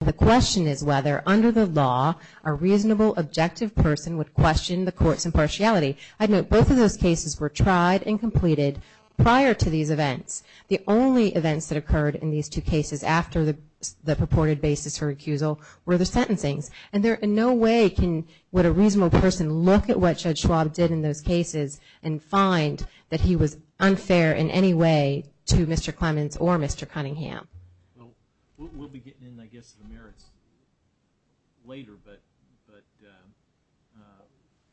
The question is whether, under the law, a reasonable, objective person would question the court's impartiality. I'd note both of those cases were tried and completed prior to these events. The only events that occurred in these two cases after the purported basis for recusal were the sentencings. And there in no way would a reasonable person look at what Judge Schwab did in those cases and find that he was unfair in any way to Mr. Clemons or Mr. Cunningham. Well, we'll be getting in, I guess, to the merits later, but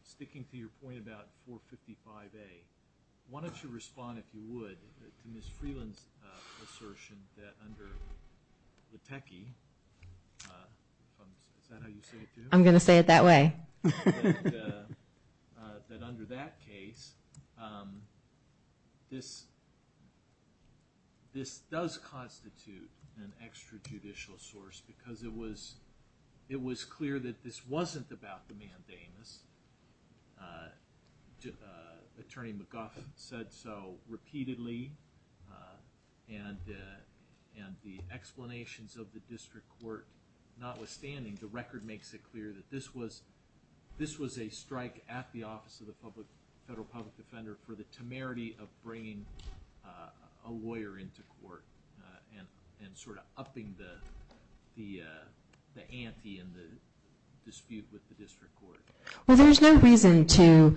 sticking to your point about 455A, why don't you respond, if you would, to Ms. Freeland's assertion that under the techie, is that how you say it, too? I'm going to say it that way. That under that case, this does constitute an extrajudicial source because it was clear that this wasn't about the mandamus. Attorney McGuff said so repeatedly, and the explanations of the district court notwithstanding, the record makes it clear that this was a strike at the Office of the Federal Public Defender for the temerity of bringing a lawyer into court and sort of upping the ante in the dispute with the district court. Well, there's no reason to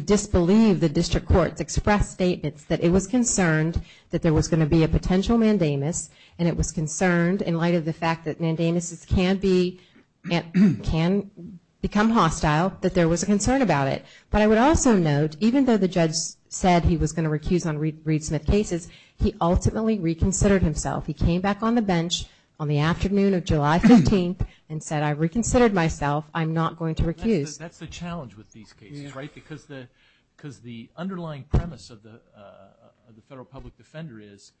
disbelieve the district court's expressed statements that it was concerned that there was going to be a potential mandamus, and it was concerned, in light of the fact that mandamuses can become hostile, that there was a concern about it. But I would also note, even though the judge said he was going to recuse on Reed Smith cases, he ultimately reconsidered himself. He came back on the bench on the afternoon of July 15th and said, I reconsidered myself, I'm not going to recuse. That's the challenge with these cases, right? Because the underlying premise of the Federal Public Defender is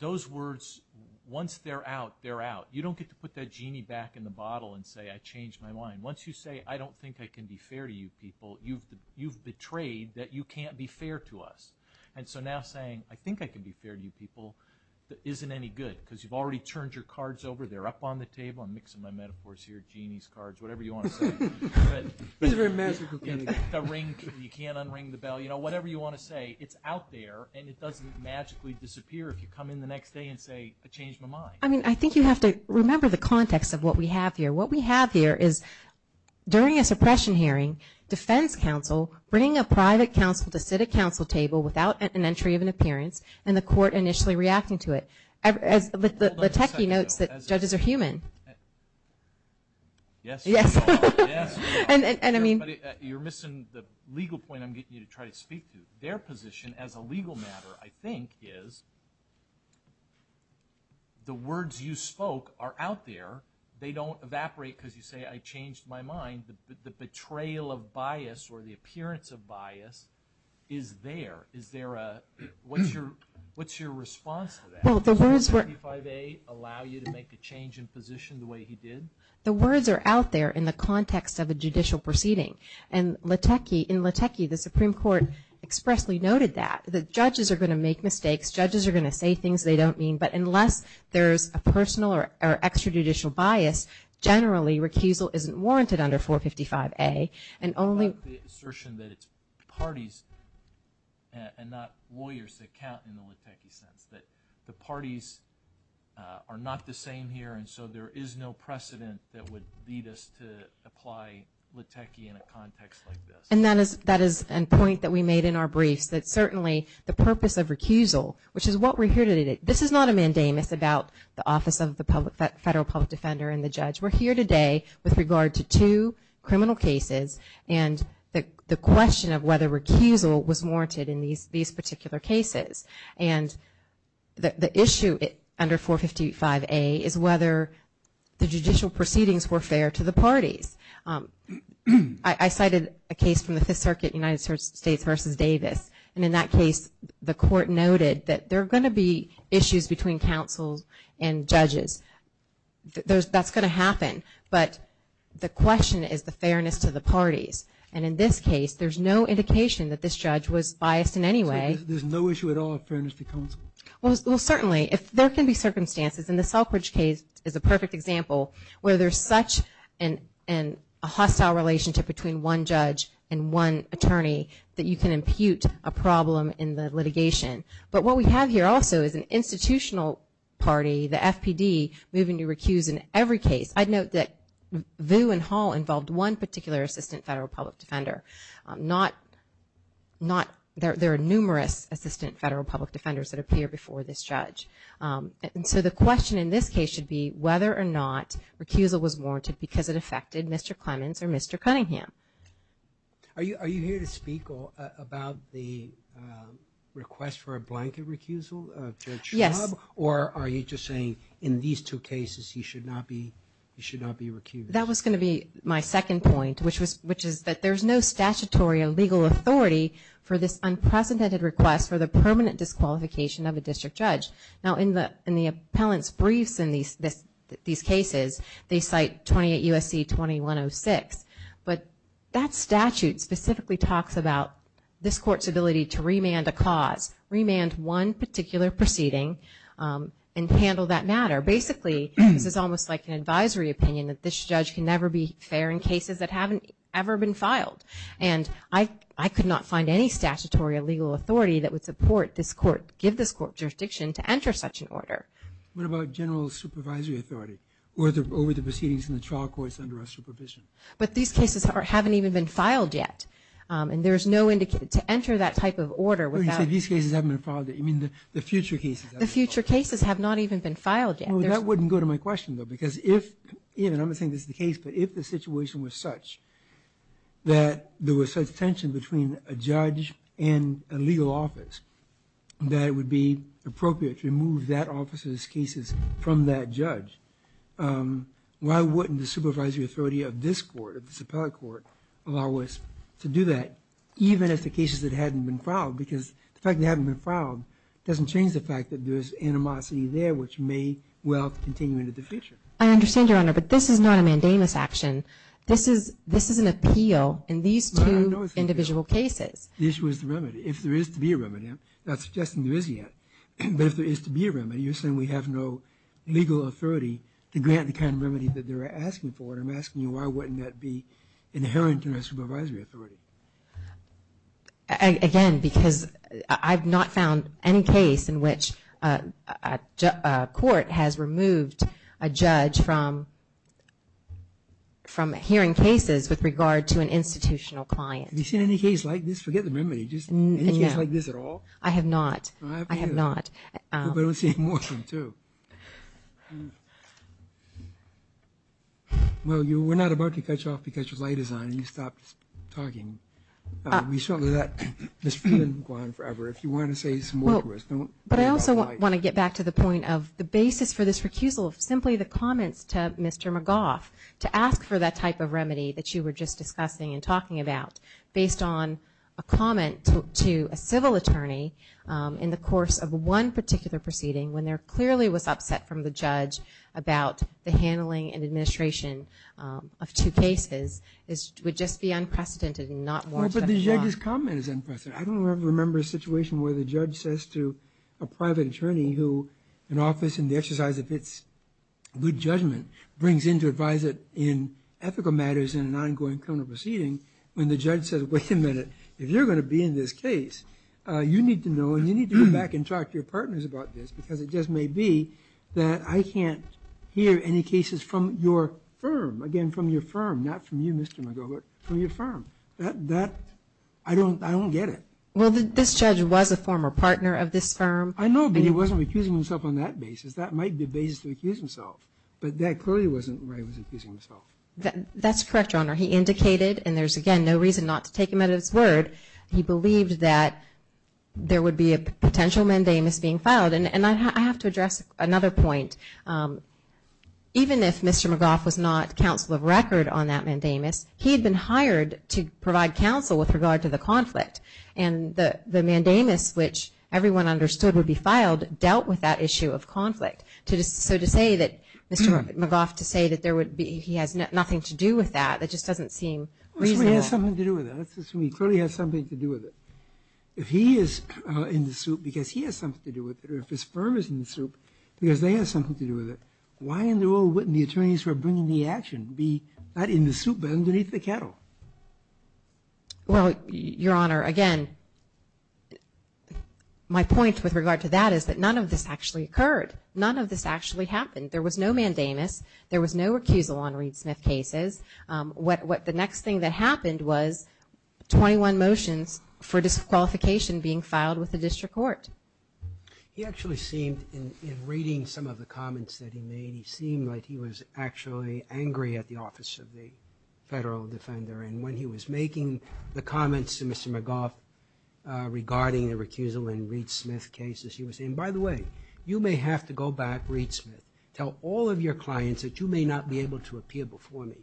those words, once they're out, they're out. You don't get to put that genie back in the bottle and say, I changed my mind. Once you say, I don't think I can be fair to you people, you've betrayed that you can't be fair to us. And so now saying, I think I can be fair to you people, isn't any good, because you've already turned your cards over, they're up on the table. I'm mixing my metaphors here, genies, cards, whatever you want to say. He's a very magical genie. You can't unring the bell. You know, whatever you want to say, it's out there, and it doesn't magically disappear if you come in the next day and say, I changed my mind. I mean, I think you have to remember the context of what we have here. What we have here is, during a suppression hearing, defense counsel bringing a private counsel to sit at counsel table without an entry of an appearance, and the court initially reacting to it. Letecki notes that judges are human. Yes. Yes. You're missing the legal point I'm getting you to try to speak to. Their position as a legal matter, I think, is the words you spoke are out there. They don't evaporate because you say, I changed my mind. The betrayal of bias or the appearance of bias is there. What's your response to that? Does 455A allow you to make a change in position the way he did? The words are out there in the context of a judicial proceeding, and in Letecki, the Supreme Court expressly noted that. The judges are going to make mistakes. Judges are going to say things they don't mean, but unless there's a personal or extrajudicial bias, generally, recusal isn't warranted under 455A. The assertion that it's parties and not lawyers that count in the Letecki sense, that the parties are not the same here, and so there is no precedent that would lead us to apply Letecki in a context like this. And that is a point that we made in our briefs, that certainly the purpose of recusal, which is what we're here to do. This is not a mandamus about the Office of the Federal Public Defender and the judge. We're here today with regard to two criminal cases and the question of whether recusal was warranted in these particular cases. And the issue under 455A is whether the judicial proceedings were fair to the parties. I cited a case from the Fifth Circuit, United States v. Davis, and in that case, the court noted that there are going to be issues between counsels and judges. That's going to happen, but the question is the fairness to the parties. And in this case, there's no indication that this judge was biased in any way. So there's no issue at all of fairness to counsel? Well, certainly. There can be circumstances, and the Selfridge case is a perfect example, where there's such a hostile relationship between one judge and one attorney that you can impute a problem in the litigation. But what we have here also is an institutional party, the FPD, moving to recuse in every case. I'd note that Vu and Hall involved one particular Assistant Federal Public Defender. There are numerous Assistant Federal Public Defenders that appear before this judge. And so the question in this case should be whether or not recusal was warranted because it affected Mr. Clemens or Mr. Cunningham. Are you here to speak about the request for a blanket recusal? Yes. Or are you just saying in these two cases, he should not be recused? That was going to be my second point, which is that there's no statutory or legal authority for this unprecedented request for the permanent disqualification of a district judge. Now, in the appellant's briefs in these cases, they cite 28 U.S.C. 2106. But that statute specifically talks about this court's ability to remand a cause, remand one particular proceeding and handle that matter. Basically, this is almost like an advisory opinion that this judge can never be fair in cases that haven't ever been filed. And I could not find any statutory or legal authority that would support this court, give this court jurisdiction to enter such an order. What about general supervisory authority over the proceedings in the trial courts under our supervision? But these cases haven't even been filed yet. And there's no indication to enter that type of order without... You say these cases haven't been filed yet. You mean the future cases haven't been filed yet? The future cases have not even been filed yet. That wouldn't go to my question, though, because if, and I'm not saying this is the case, but if the situation was such that there was such tension between a judge and a legal office that it would be appropriate to remove that office's cases from that judge, why wouldn't the supervisory authority of this court, of this appellate court, allow us to do that, even if the cases that hadn't been filed, because the fact that they haven't been filed doesn't change the fact that there's animosity there which may well continue into the future. I understand, Your Honor, but this is not a mandamus action. This is an appeal in these two individual cases. The issue is the remedy. If there is to be a remedy, I'm not suggesting there is yet, but if there is to be a remedy, you're saying we have no legal authority to grant the kind of remedy that they're asking for, and I'm asking you why wouldn't that be inherent to our supervisory authority? Again, because I've not found any case in which a court has removed a judge from hearing cases with regard to an institutional client. Have you seen any case like this? Forget the remedy. Any case like this at all? I have not. I have not. I don't see any more from two. Well, you were not about to catch off because your light is on, and you stopped talking. We certainly let this feeling go on forever. If you want to say some more to us, don't. But I also want to get back to the point of the basis for this recusal, simply the comments to Mr. McGaugh to ask for that type of remedy that you were just discussing and talking about based on a comment to a civil attorney in the course of one particular proceeding when there clearly was upset from the judge about the handling and administration of two cases would just be unprecedented and not warranted. Well, but the judge's comment is unprecedented. I don't remember a situation where the judge says to a private attorney who an office in the exercise of its good judgment brings in to advise it in ethical matters in an ongoing criminal proceeding when the judge says, wait a minute, if you're going to be in this case, you need to know and you need to go back and talk to your partners about this because it just may be that I can't hear any cases from your firm, again, from your firm, not from you, Mr. McGaugh, but from your firm. I don't get it. Well, this judge was a former partner of this firm. I know, but he wasn't recusing himself on that basis. That might be the basis to recuse himself, but that clearly wasn't the way he was recusing himself. That's correct, Your Honor. He indicated, and there's, again, no reason not to take him at his word. He believed that there would be a potential mandamus being filed, and I have to address another point. Even if Mr. McGaugh was not counsel of record on that mandamus, he had been hired to provide counsel with regard to the conflict, and the mandamus, which everyone understood would be filed, dealt with that issue of conflict. So to say that Mr. McGaugh, to say that there would be, he has nothing to do with that, that just doesn't seem reasonable. Well, he has something to do with it. Let's assume he clearly has something to do with it. If he is in the suit because he has something to do with it, or if his firm is in the suit because they have something to do with it, why in the old wit and the attorneys who are bringing the action be not in the suit but underneath the kettle? Well, Your Honor, again, my point with regard to that is that none of this actually occurred. None of this actually happened. There was no mandamus. There was no recusal on Reed Smith cases. The next thing that happened was 21 motions for disqualification being filed with the district court. He actually seemed, in reading some of the comments that he made, he seemed like he was actually angry at the Office of the Federal Defender. And when he was making the comments to Mr. McGaugh regarding the recusal in Reed Smith cases, he was saying, by the way, you may have to go back, Reed Smith, tell all of your clients that you may not be able to appear before me.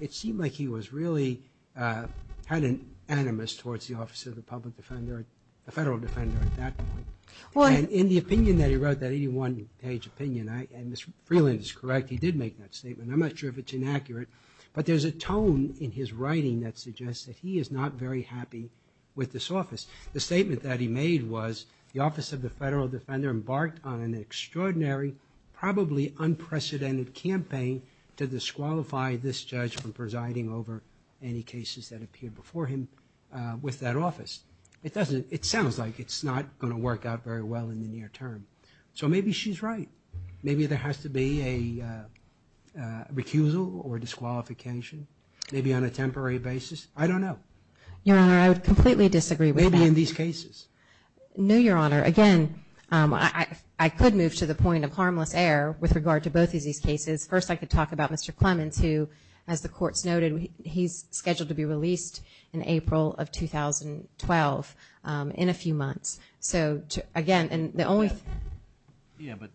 It seemed like he was really, had an animus towards the Office of the Public Defender, the Federal Defender at that point. And in the opinion that he wrote, that 81-page opinion, and Ms. Freeland is correct, he did make that statement. I'm not sure if it's inaccurate, but there's a tone in his writing that suggests that he is not very happy with this office. The statement that he made was, the Office of the Federal Defender embarked on an extraordinary, probably unprecedented campaign to disqualify this judge from presiding over any cases that appeared before him with that office. It doesn't, it sounds like it's not going to work out very well in the near term. So maybe she's right. Maybe there has to be a recusal or disqualification, maybe on a temporary basis. I don't know. Your Honor, I would completely disagree with that. Maybe in these cases. No, Your Honor. Again, I could move to the point of harmless air with regard to both of these cases. First, I could talk about Mr. Clemens, who, as the courts noted, he's scheduled to be released in April of 2012 in a few months. So, again, the only thing. Yeah, but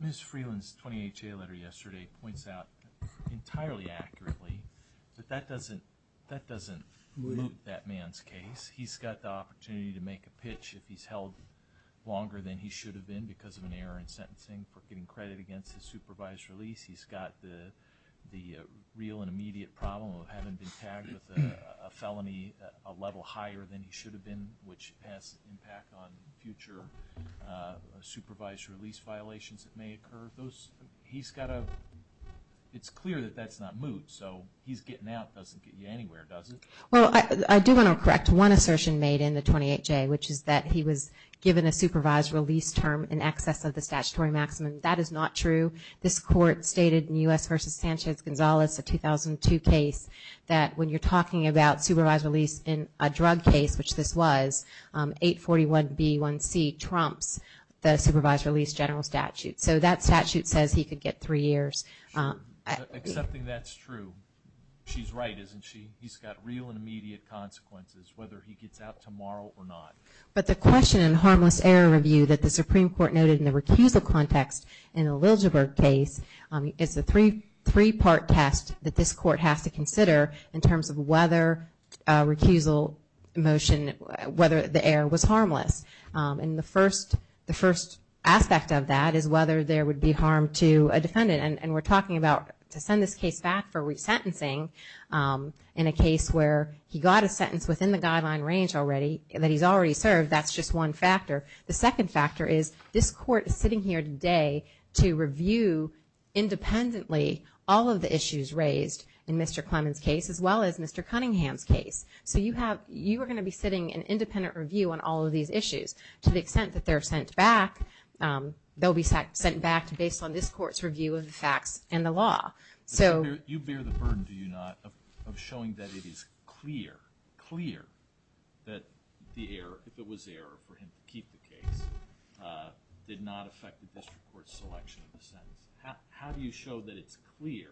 Ms. Freeland's 20HA letter yesterday points out entirely accurately that that doesn't move that man's case. He's got the opportunity to make a pitch if he's held longer than he should have been because of an error in sentencing for getting credit against his supervised release. He's got the real and immediate problem of having been tagged with a felony a level higher than he should have been, which has impact on future supervised release violations that may occur. He's got a, it's clear that that's not moved. So he's getting out doesn't get you anywhere, does it? Well, I do want to correct one assertion made in the 20HA, which is that he was given a supervised release term in excess of the statutory maximum. That is not true. This court stated in U.S. v. Sanchez-Gonzalez, a 2002 case, that when you're talking about supervised release in a drug case, which this was, 841B1C trumps the supervised release general statute. So that statute says he could get three years. Accepting that's true. She's right, isn't she? He's got real and immediate consequences, whether he gets out tomorrow or not. But the question in harmless error review that the Supreme Court noted in the recusal context in the Liljeburg case, is the three-part test that this court has to consider in terms of whether recusal motion, whether the error was harmless. And the first aspect of that is whether there would be harm to a defendant. And we're talking about to send this case back for resentencing in a case where he got a sentence within the guideline range already, that he's already served, that's just one factor. The second factor is, this court is sitting here today to review independently all of the issues raised in Mr. Clement's case, as well as Mr. Cunningham's case. So you are going to be sitting in independent review on all of these issues. To the extent that they're sent back, they'll be sent back based on this court's review of the facts and the law. You bear the burden, do you not, of showing that it is clear, clear, that the error, if it was error for him to keep the case, did not affect the district court's selection of the sentence? How do you show that it's clear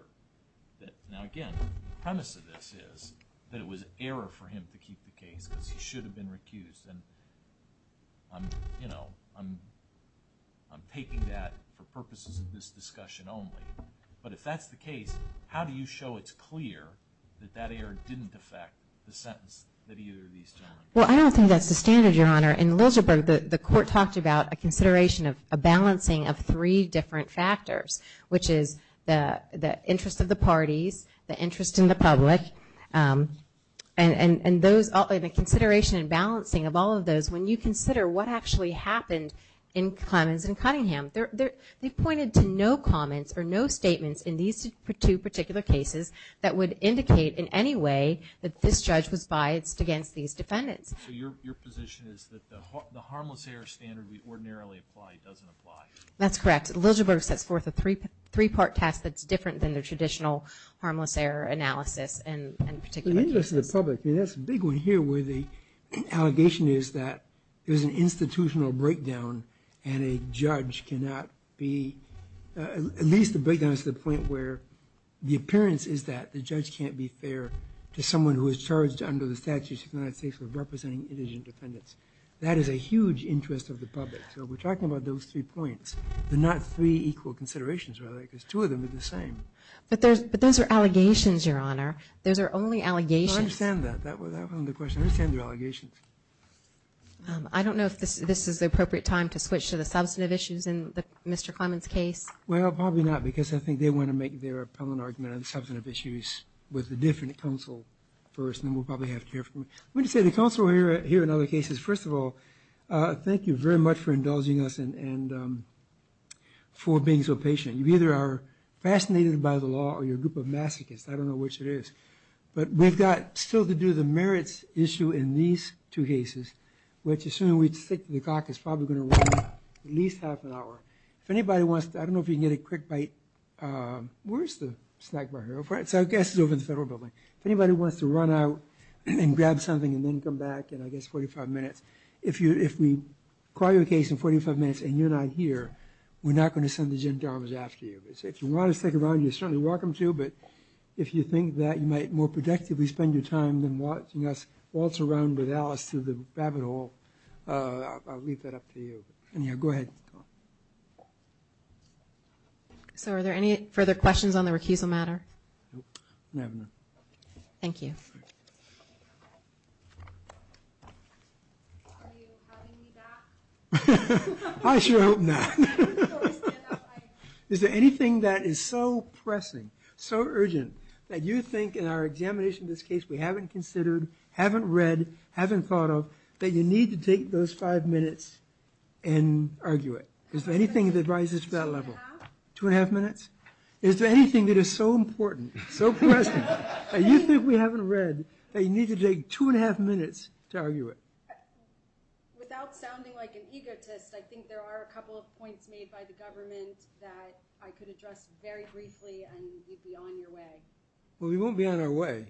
that... Now again, the premise of this is that it was error for him to keep the case because he should have been recused. And I'm taking that for purposes of this discussion only. But if that's the case, how do you show it's clear that that error didn't affect the sentence that either of these gentlemen... Well, I don't think that's the standard, Your Honor. In Liljeburg, the court talked about a consideration of a balancing of three different factors, which is the interest of the parties, the interest in the public, and the consideration and balancing of all of those. When you consider what actually happened in Clements and Cunningham, they pointed to no comments or no statements in these two particular cases that would indicate in any way that this judge was biased against these defendants. So your position is that the harmless error standard we ordinarily apply doesn't apply? That's correct. Liljeburg sets forth a three-part test that's different than the traditional harmless error analysis and particular cases. The interest of the public. I mean, that's a big one here where the allegation is that there's an institutional breakdown and a judge cannot be... at least the breakdown is to the point where the appearance is that the judge can't be fair to someone who is charged under the Statutes of the United States of representing indigent defendants. That is a huge interest of the public. So we're talking about those three points, but not three equal considerations, because two of them are the same. But those are allegations, Your Honor. Those are only allegations. I understand that. That was the question. I understand they're allegations. I don't know if this is the appropriate time to switch to the substantive issues in Mr. Clements' case. Well, probably not, because I think they want to make their appellant argument on the substantive issues with a different counsel first, and then we'll probably have to hear from... I'm going to say the counsel here in other cases, first of all, thank you very much for indulging us and for being so patient. You either are fascinated by the law or you're a group of masochists. I don't know which it is. But we've got still to do the merits issue in these two cases, which assuming we stick to the clock is probably going to run at least half an hour. If anybody wants to... I don't know if you can get a quick bite. Where is the snack bar here? I guess it's over in the Federal Building. If anybody wants to run out and grab something and then come back in, I guess, 45 minutes, if we call your case in 45 minutes and you're not here, we're not going to send the gendarmes after you. If you want to stick around, you're certainly welcome to, but if you think that you might more productively spend your time than watching us waltz around with Alice through the Babbit Hall, I'll leave that up to you. Go ahead. Are there any further questions on the recusal matter? No. Thank you. Are you having me back? I sure hope not. Is there anything that is so pressing, so urgent, that you think in our examination of this case we haven't considered, haven't read, haven't thought of, that you need to take those five minutes and argue it? Is there anything that rises to that level? Two and a half minutes? Is there anything that is so important, so pressing, that you think we haven't read, that you need to take two and a half minutes to argue it? Without sounding like an egotist, I think there are a couple of points made by the government that I could address very briefly and you'd be on your way. Well, we won't be on our way.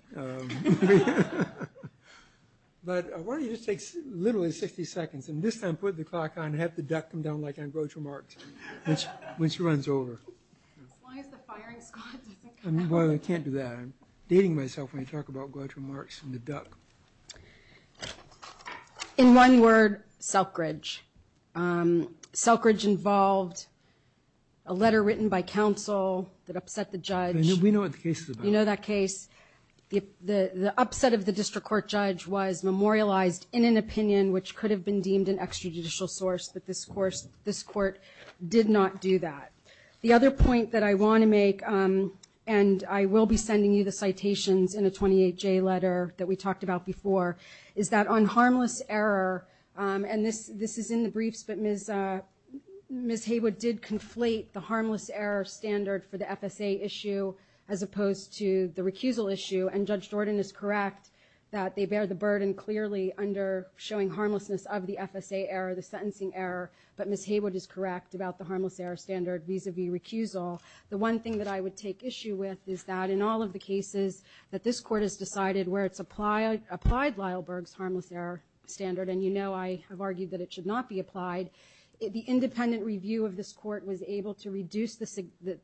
But why don't you just take literally 60 seconds and this time put the clock on and have the duck come down like on Groucho Marx when she runs over. As long as the firing squad doesn't come down. Well, I can't do that. I'm dating myself when I talk about Groucho Marx and the duck. In one word, selkridge. Selkridge involved a letter written by counsel that upset the judge. We know what the case is about. You know that case. The upset of the district court judge was memorialized in an opinion which could have been deemed an extrajudicial source, but this court did not do that. The other point that I want to make, and I will be sending you the citations in a 28-J letter that we talked about before, is that on harmless error, and this is in the briefs, Ms. Haywood did conflate the harmless error standard for the FSA issue as opposed to the recusal issue, and Judge Jordan is correct that they bear the burden clearly under showing harmlessness of the FSA error, the sentencing error, but Ms. Haywood is correct about the harmless error standard vis-a-vis recusal. The one thing that I would take issue with is that in all of the cases that this court has decided where it's applied Lyle Berg's harmless error standard, and you know I have argued that it should not be applied, the independent review of this court was able to reduce the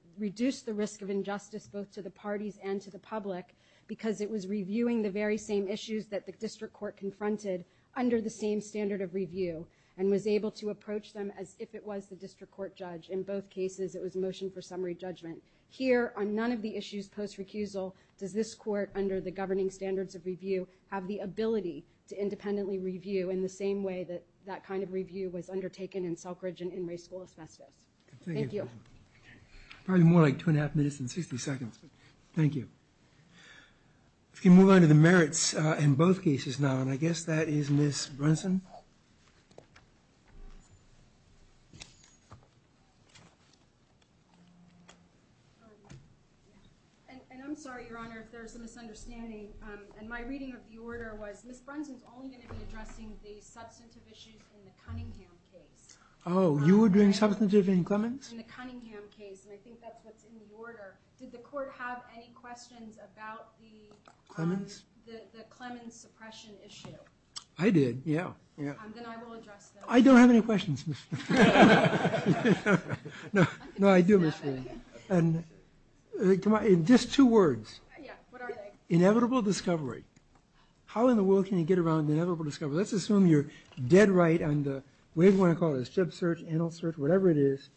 risk of injustice both to the parties and to the public because it was reviewing the very same issues that the district court confronted under the same standard of review and was able to approach them as if it was the district court judge. In both cases, it was a motion for summary judgment. Here, on none of the issues post-recusal, does this court under the governing standards of review have the ability to independently review in the same way that that kind of review was undertaken in Selkridge and in Ray School Asbestos. Thank you. Probably more like two and a half minutes than 60 seconds, but thank you. If we can move on to the merits in both cases now, and I guess that is Ms. Brunson. And I'm sorry, Your Honor, if there's a misunderstanding. And my reading of the order was, Ms. Brunson's only going to be addressing the substantive issues in the Cunningham case. Oh, you were doing substantive in Clemens? In the Cunningham case, and I think that's what's in the order. Did the court have any questions about the Clemens suppression issue? I did, yeah. Then I will address them. I don't have any questions, Ms. Brunson. No, I do, Ms. Brunson. Just two words. Yeah, what are they? Inevitable discovery. How in the world can you get around inevitable discovery? Let's assume you're dead right on the, whatever you want to call it, strip search, anal search, whatever it is,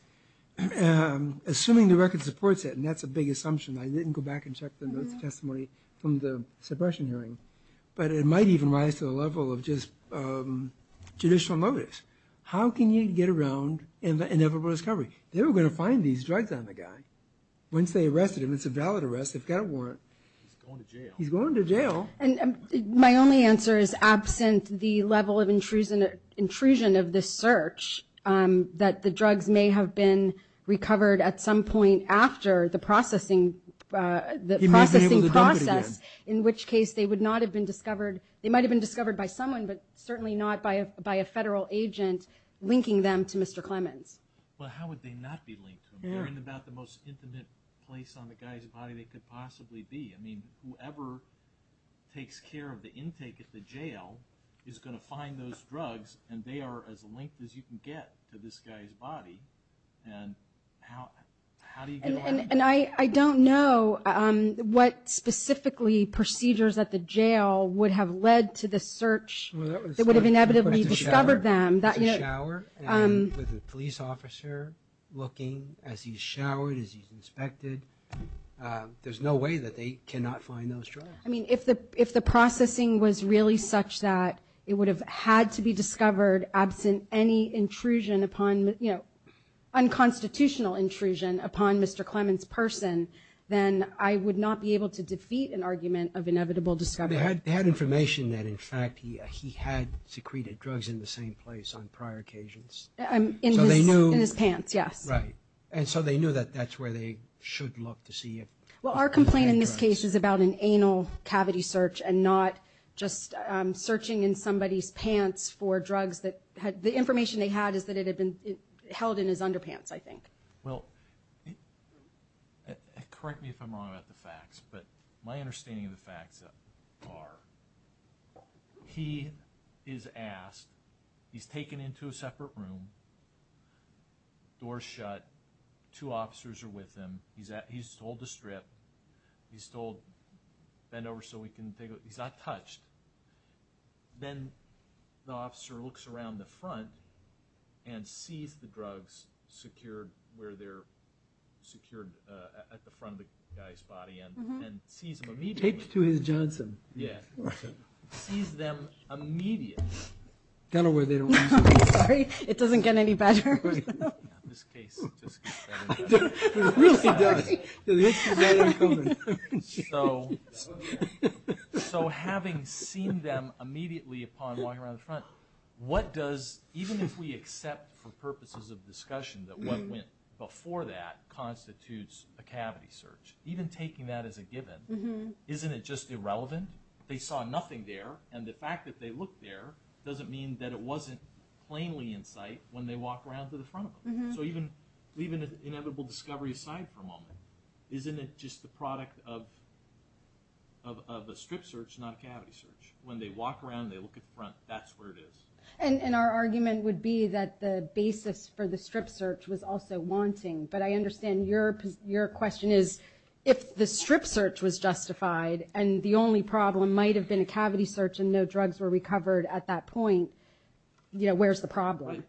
assuming the record supports it, and that's a big assumption. I didn't go back and check the notes of testimony from the suppression hearing. But it might even rise to the level of just judicial notice. How can you get around inevitable discovery? They were going to find these drugs on the guy once they arrested him. It's a valid arrest. They've got a warrant. He's going to jail. He's going to jail. And my only answer is, absent the level of intrusion of this search, that the drugs may have been recovered at some point after the processing process, in which case they would not have been discovered. They might have been discovered by someone, but certainly not by a federal agent linking them to Mr. Clemens. Well, how would they not be linked to him? They're in about the most intimate place on the guy's body they could possibly be. I mean, whoever takes care of the intake at the jail is going to find those drugs, and they are as linked as you can get to this guy's body. And how do you get around that? And I don't know what specifically procedures at the jail would have led to the search that would have inevitably discovered them. With the police officer looking as he's showered, as he's inspected, there's no way that they cannot find those drugs. I mean, if the processing was really such that it would have had to be discovered absent any intrusion upon, you know, unconstitutional intrusion upon Mr. Clemens' person, then I would not be able to defeat an argument of inevitable discovery. Well, they had information that, in fact, he had secreted drugs in the same place on prior occasions. In his pants, yes. Right. And so they knew that that's where they should look to see if... Well, our complaint in this case is about an anal cavity search and not just searching in somebody's pants for drugs that had... The information they had is that it had been held in his underpants, I think. Well, correct me if I'm wrong about the facts, but my understanding of the facts are he is asked, he's taken into a separate room, door's shut, two officers are with him, he's told to strip, he's told bend over so we can take a look. He's not touched. Then the officer looks around the front and sees the drugs secured where they're secured at the front of the guy's body and sees them immediately. Taped to his Johnson. Yeah. Sees them immediately. Kind of where they don't need to be. Sorry, it doesn't get any better. This case just gets better and better. It really does. So having seen them immediately upon walking around the front, what does, even if we accept for purposes of discussion that what went before that constitutes a cavity search, even taking that as a given, isn't it just irrelevant? They saw nothing there, and the fact that they looked there doesn't mean that it wasn't plainly in sight when they walked around to the front of him. So even inevitable discovery aside for a moment, isn't it just the product of a strip search, not a cavity search? When they walk around and they look at the front, that's where it is. And our argument would be that the basis for the strip search was also wanting, but I understand your question is if the strip search was justified and the only problem might have been a cavity search and no drugs were recovered at that point, where's the problem? Right.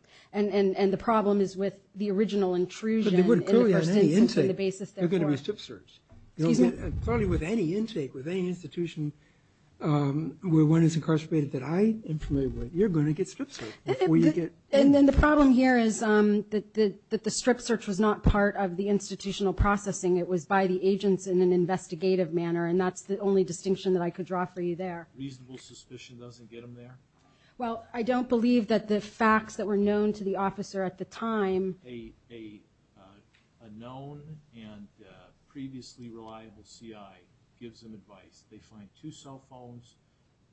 And the problem is with the original intrusion. But they wouldn't clearly have any intake. They're going to be strip searched. Excuse me? Clearly with any intake, with any institution where one is incarcerated that I am familiar with, you're going to get strip searched. And then the problem here is that the strip search was not part of the institutional processing. It was by the agents in an investigative manner, and that's the only distinction that I could draw for you there. Reasonable suspicion doesn't get them there? Well, I don't believe that the facts that were known to the officer at the time. A known and previously reliable CI gives them advice. They find two cell phones,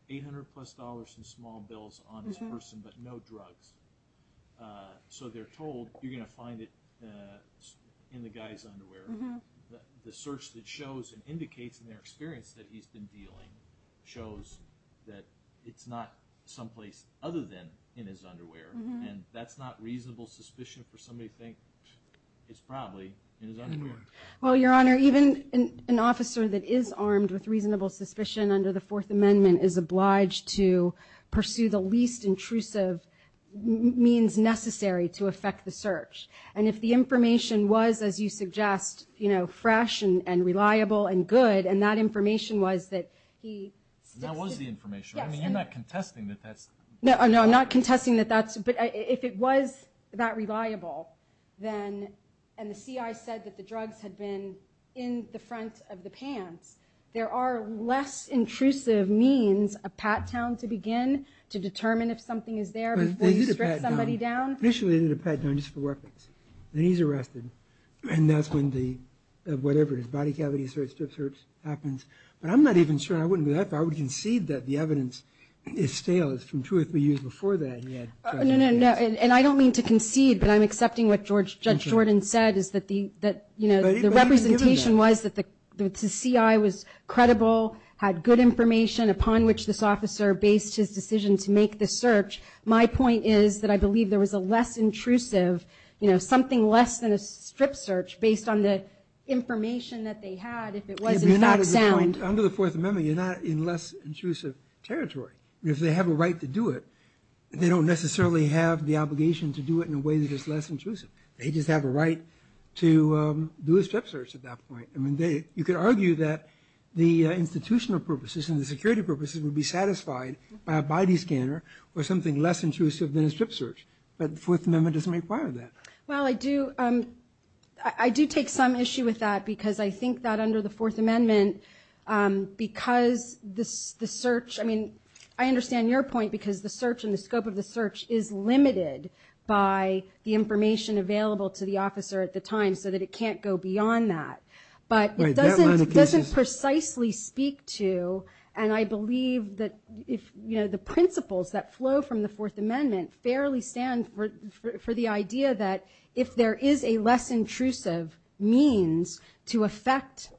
$800 plus in small bills on this person, but no drugs. So they're told you're going to find it in the guy's underwear. The search that shows and indicates in their experience that he's been dealing shows that it's not someplace other than in his underwear, and that's not reasonable suspicion for somebody to think it's probably in his underwear. Well, Your Honor, even an officer that is armed with reasonable suspicion under the Fourth Amendment is obliged to pursue the least intrusive means necessary to effect the search. And if the information was, as you suggest, fresh and reliable and good, and that information was that he strips it. And that was the information. I mean, you're not contesting that that's. No, I'm not contesting that that's. But if it was that reliable, then, and the CI said that the drugs had been in the front of the pants, there are less intrusive means, a pat-down to begin to determine if something is there before you strip somebody down. But they did a pat-down. Initially, they did a pat-down just for weapons. Then he's arrested. And that's when the, whatever it is, body cavity search, strip search happens. But I'm not even sure. I would concede that the evidence is stale. It's from two or three years before that. No, no, no. And I don't mean to concede, but I'm accepting what Judge Jordan said, is that the representation was that the CI was credible, had good information upon which this officer based his decision to make the search. My point is that I believe there was a less intrusive, something less than a strip search based on the information that they had, if it was in fact sound. Under the Fourth Amendment, you're not in less intrusive territory. If they have a right to do it, they don't necessarily have the obligation to do it in a way that is less intrusive. They just have a right to do a strip search at that point. You could argue that the institutional purposes and the security purposes would be satisfied by a body scanner or something less intrusive than a strip search. But the Fourth Amendment doesn't require that. Well, I do take some issue with that because I think that under the Fourth Amendment, because the search, I mean, I understand your point because the search and the scope of the search is limited by the information available to the officer at the time so that it can't go beyond that. But it doesn't precisely speak to, and I believe that the principles that flow from the Fourth Amendment fairly stand for the idea that if there is a less intrusive means to affect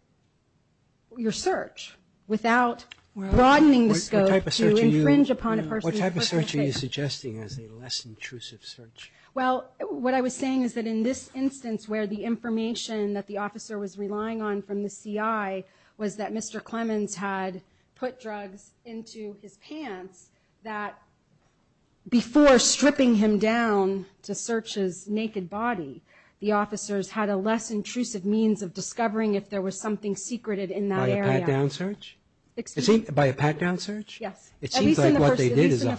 your search without broadening the scope to infringe upon a person... What type of search are you suggesting as a less intrusive search? Well, what I was saying is that in this instance where the information that the officer was relying on from the CI was that Mr. Clemens had put drugs into his pants, that before stripping him down to search his naked body, the officers had a less intrusive means of discovering if there was something secreted in that area. By a pat-down search? Excuse me? By a pat-down search? Yes. At least in the first instance. It seems like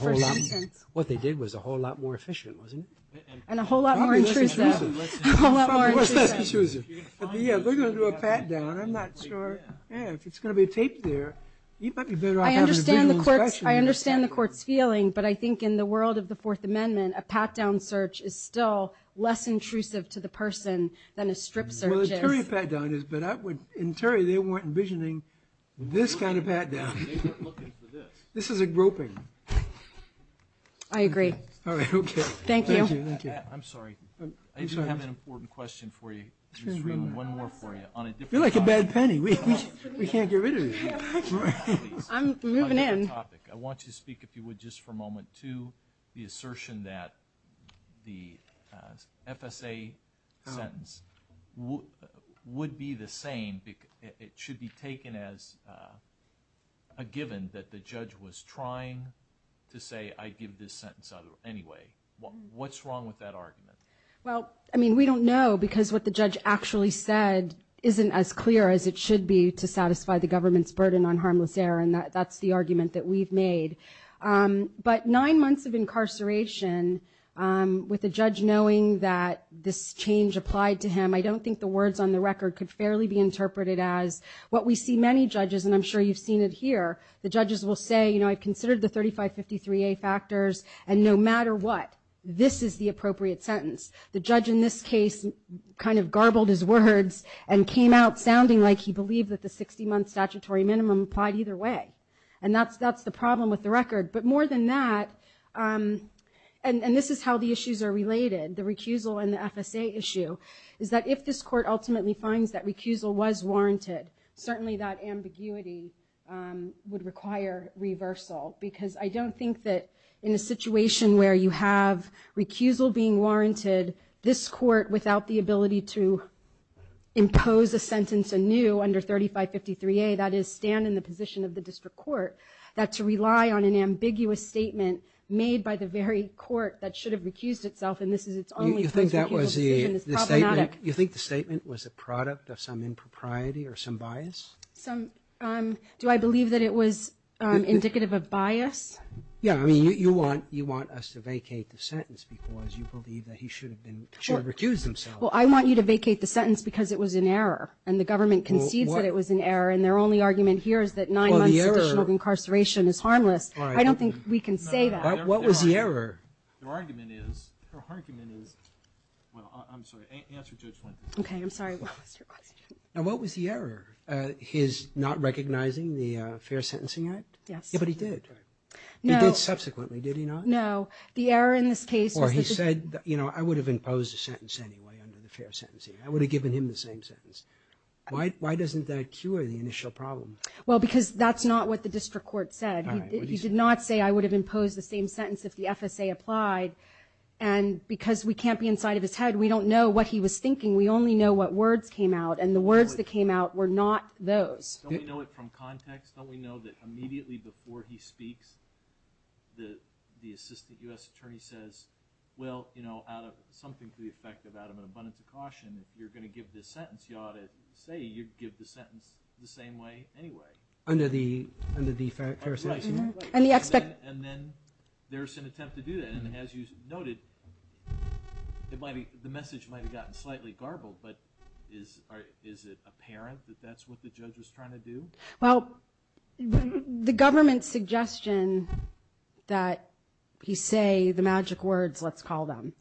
what they did was a whole lot more efficient, wasn't it? And a whole lot more intrusive. Probably less intrusive. A whole lot more intrusive. Less intrusive. Yeah, we're going to do a pat-down. I'm not sure if it's going to be taped there. You might be better off having a visual inspection. I understand the court's feeling, but I think in the world of the Fourth Amendment, a pat-down search is still less intrusive to the person than a strip search is. Well, the Terry pat-down is, but in Terry they weren't envisioning this kind of pat-down. They weren't looking for this. This is a groping. I agree. All right, okay. Thank you. Thank you. I'm sorry. I do have an important question for you. Just one more for you. You're like a bad penny. I'm moving in. I want you to speak, if you would, just for a moment, to the assertion that the FSA sentence would be the same. It should be taken as a given that the judge was trying to say, I'd give this sentence anyway. What's wrong with that argument? Well, I mean, we don't know, because what the judge actually said isn't as clear as it should be to satisfy the government's burden on harmless error, and that's the argument that we've made. But nine months of incarceration, with the judge knowing that this change applied to him, I don't think the words on the record could fairly be interpreted as what we see many judges, and I'm sure you've seen it here, the judges will say, you know, I've considered the 3553A factors, and no matter what, this is the appropriate sentence. The judge in this case kind of garbled his words and came out sounding like he believed that the 60-month statutory minimum applied either way. And that's the problem with the record. But more than that, and this is how the issues are related, the recusal and the FSA issue, is that if this court ultimately finds that recusal was warranted, certainly that ambiguity would require reversal, because I don't think that in a situation where you have recusal being warranted, this court, without the ability to impose a sentence anew under 3553A, that is, stand in the position of the district court, that to rely on an ambiguous statement made by the very court that should have recused itself, and this is its only point of appeal decision, is problematic. You think the statement was a product of some impropriety or some bias? Do I believe that it was indicative of bias? Yeah, I mean, you want us to vacate the sentence because you believe that he should have recused himself. Well, I want you to vacate the sentence because it was in error, and the government concedes that it was in error, and their only argument here is that nine months additional incarceration is harmless. I don't think we can say that. What was the error? Your argument is, well, I'm sorry, answer Judge Lincoln. Okay, I'm sorry, what was your question? Now, what was the error? His not recognizing the fair sentencing act? Yes. Yeah, but he did. He did subsequently, did he not? No. The error in this case was that the judge. Or he said, you know, I would have imposed a sentence anyway under the fair sentencing. I would have given him the same sentence. Why doesn't that cure the initial problem? Well, because that's not what the district court said. He did not say I would have imposed the same sentence if the FSA applied, and because we can't be inside of his head, we don't know what he was thinking. We only know what words came out, and the words that came out were not those. Don't we know it from context? Don't we know that immediately before he speaks, the assistant U.S. attorney says, well, you know, out of something to the effect of out of an abundance of caution, if you're going to give this sentence, you ought to say you'd give the sentence the same way anyway. Under the fair sentencing act? And then there's an attempt to do that. And as you noted, the message might have gotten slightly garbled, but is it apparent that that's what the judge was trying to do? Well, the government's suggestion that he say the magic words, let's call them,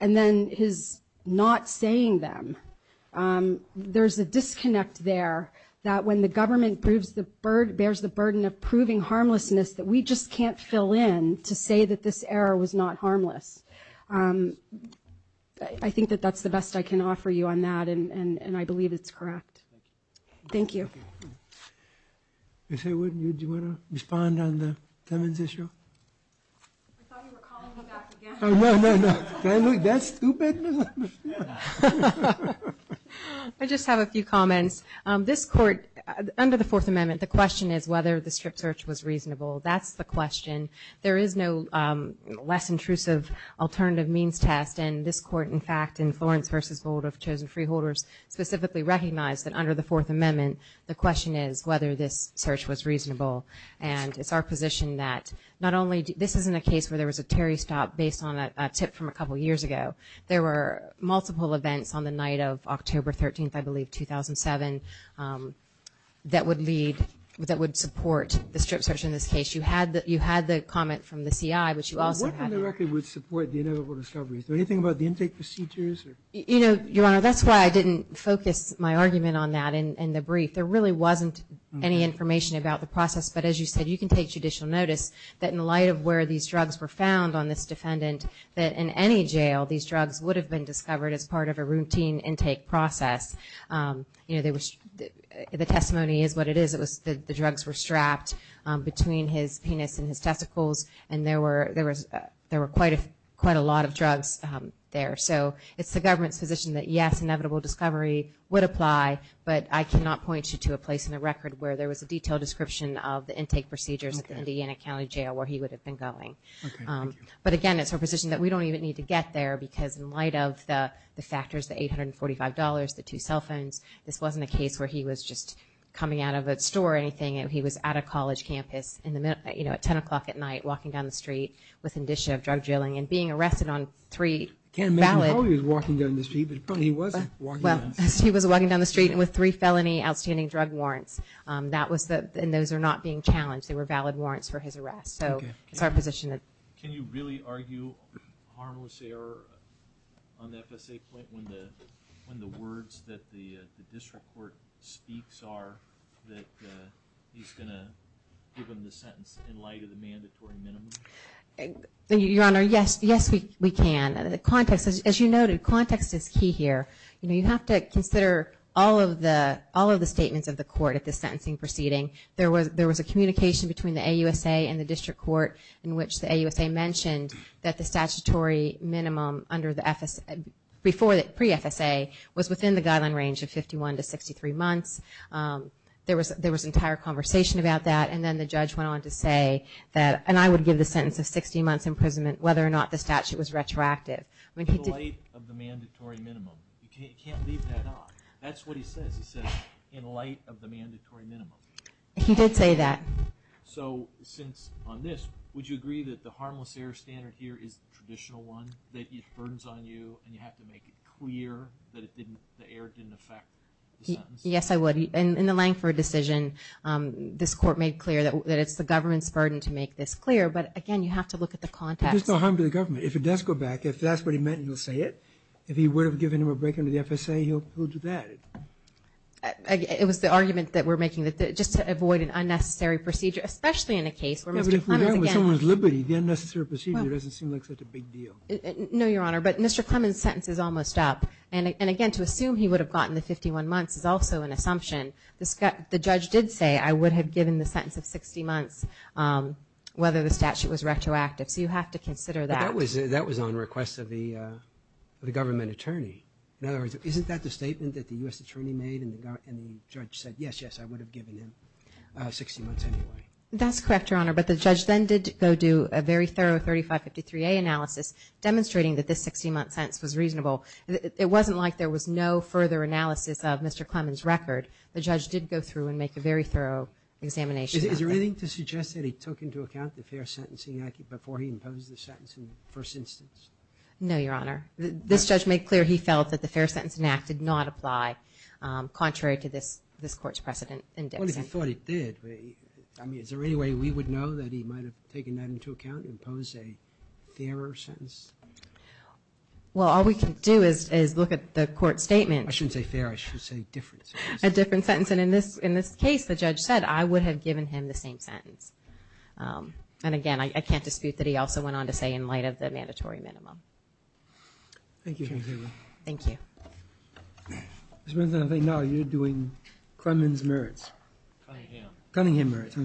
and then his not saying them, there's a disconnect there that when the government bears the burden of proving harmlessness that we just can't fill in to say that this error was not harmless. I think that that's the best I can offer you on that, and I believe it's correct. Thank you. Ms. Haywood, do you want to respond on the Timmons issue? I thought you were calling me back again. Oh, no, no, no. Can I look that stupid? I just have a few comments. This court, under the Fourth Amendment, the question is whether the strip search was reasonable. That's the question. There is no less intrusive alternative means test, and this court, in fact, in Florence v. Roosevelt of Chosen Freeholders, specifically recognized that under the Fourth Amendment, the question is whether this search was reasonable. And it's our position that not only, this isn't a case where there was a Terry stop based on a tip from a couple years ago. There were multiple events on the night of October 13th, I believe, 2007, that would lead, that would support the strip search in this case. You had the comment from the CI, which you also had. What on the record would support the inevitable discovery? Anything about the intake procedures? Your Honor, that's why I didn't focus my argument on that in the brief. There really wasn't any information about the process. But as you said, you can take judicial notice that in light of where these drugs were found on this defendant, that in any jail, these drugs would have been discovered as part of a routine intake process. The testimony is what it is. The drugs were strapped between his penis and his testicles, and there were quite a lot of drugs there. So it's the government's position that, yes, inevitable discovery would apply. But I cannot point you to a place on the record where there was a detailed description of the intake procedures at the Indiana County Jail where he would have been going. But again, it's our position that we don't even need to get there because in light of the factors, the $845, the two cell phones, this wasn't a case where he was just coming out of a store or anything. He was at a college campus at 10 o'clock at night walking down the street with indicia of drug dealing and being arrested on three valid – I can't imagine how he was walking down the street, but apparently he wasn't walking down the street. Well, he was walking down the street with three felony outstanding drug warrants, and those are not being challenged. They were valid warrants for his arrest. So it's our position that – Can you really argue harmless error on the FSA point when the words that the he's going to give him the sentence in light of the mandatory minimum? Your Honor, yes, we can. As you noted, context is key here. You have to consider all of the statements of the court at the sentencing proceeding. There was a communication between the AUSA and the district court in which the AUSA mentioned that the statutory minimum under the – before the pre-FSA was within the guideline range of 51 to 63 months. There was entire conversation about that, and then the judge went on to say that – and I would give the sentence of 60 months' imprisonment whether or not the statute was retroactive. I mean, he did – In light of the mandatory minimum. You can't leave that out. That's what he says. He says, in light of the mandatory minimum. He did say that. So since – on this, would you agree that the harmless error standard here is the traditional one, that it burdens on you, and you have to make it clear that it didn't – the error didn't affect the sentence? Yes, I would. In the Langford decision, this court made clear that it's the government's burden to make this clear. But, again, you have to look at the context. But there's no harm to the government. If it does go back, if that's what he meant, he'll say it. If he would have given him a break under the FSA, he'll do that. It was the argument that we're making, that just to avoid an unnecessary procedure, especially in a case where Mr. Clemens, again – No, but if we're dealing with someone's liberty, the unnecessary procedure doesn't seem like such a big deal. No, Your Honor, but Mr. Clemens' sentence is almost up. And, again, to assume he would have gotten the 51 months is also an assumption. The judge did say, I would have given the sentence of 60 months, whether the statute was retroactive. So you have to consider that. But that was on request of the government attorney. In other words, isn't that the statement that the U.S. attorney made and the judge said, yes, yes, I would have given him 60 months anyway? That's correct, Your Honor. But the judge then did go do a very thorough 3553A analysis, demonstrating that this 60-month sentence was reasonable. It wasn't like there was no further analysis of Mr. Clemens' record. The judge did go through and make a very thorough examination. Is there anything to suggest that he took into account the Fair Sentencing Act before he imposed the sentence in the first instance? No, Your Honor. This judge made clear he felt that the Fair Sentencing Act did not apply, contrary to this Court's precedent in Dixon. What if he thought it did? I mean, is there any way we would know that he might have taken that into account and imposed a fairer sentence? Well, all we can do is look at the Court's statement. I shouldn't say fair. I should say different sentence. A different sentence. And in this case, the judge said, I would have given him the same sentence. And again, I can't dispute that he also went on to say, in light of the mandatory minimum. Thank you. Thank you. Ms. Benson, I think now you're doing Clemens' merits. Cunningham. Cunningham merits.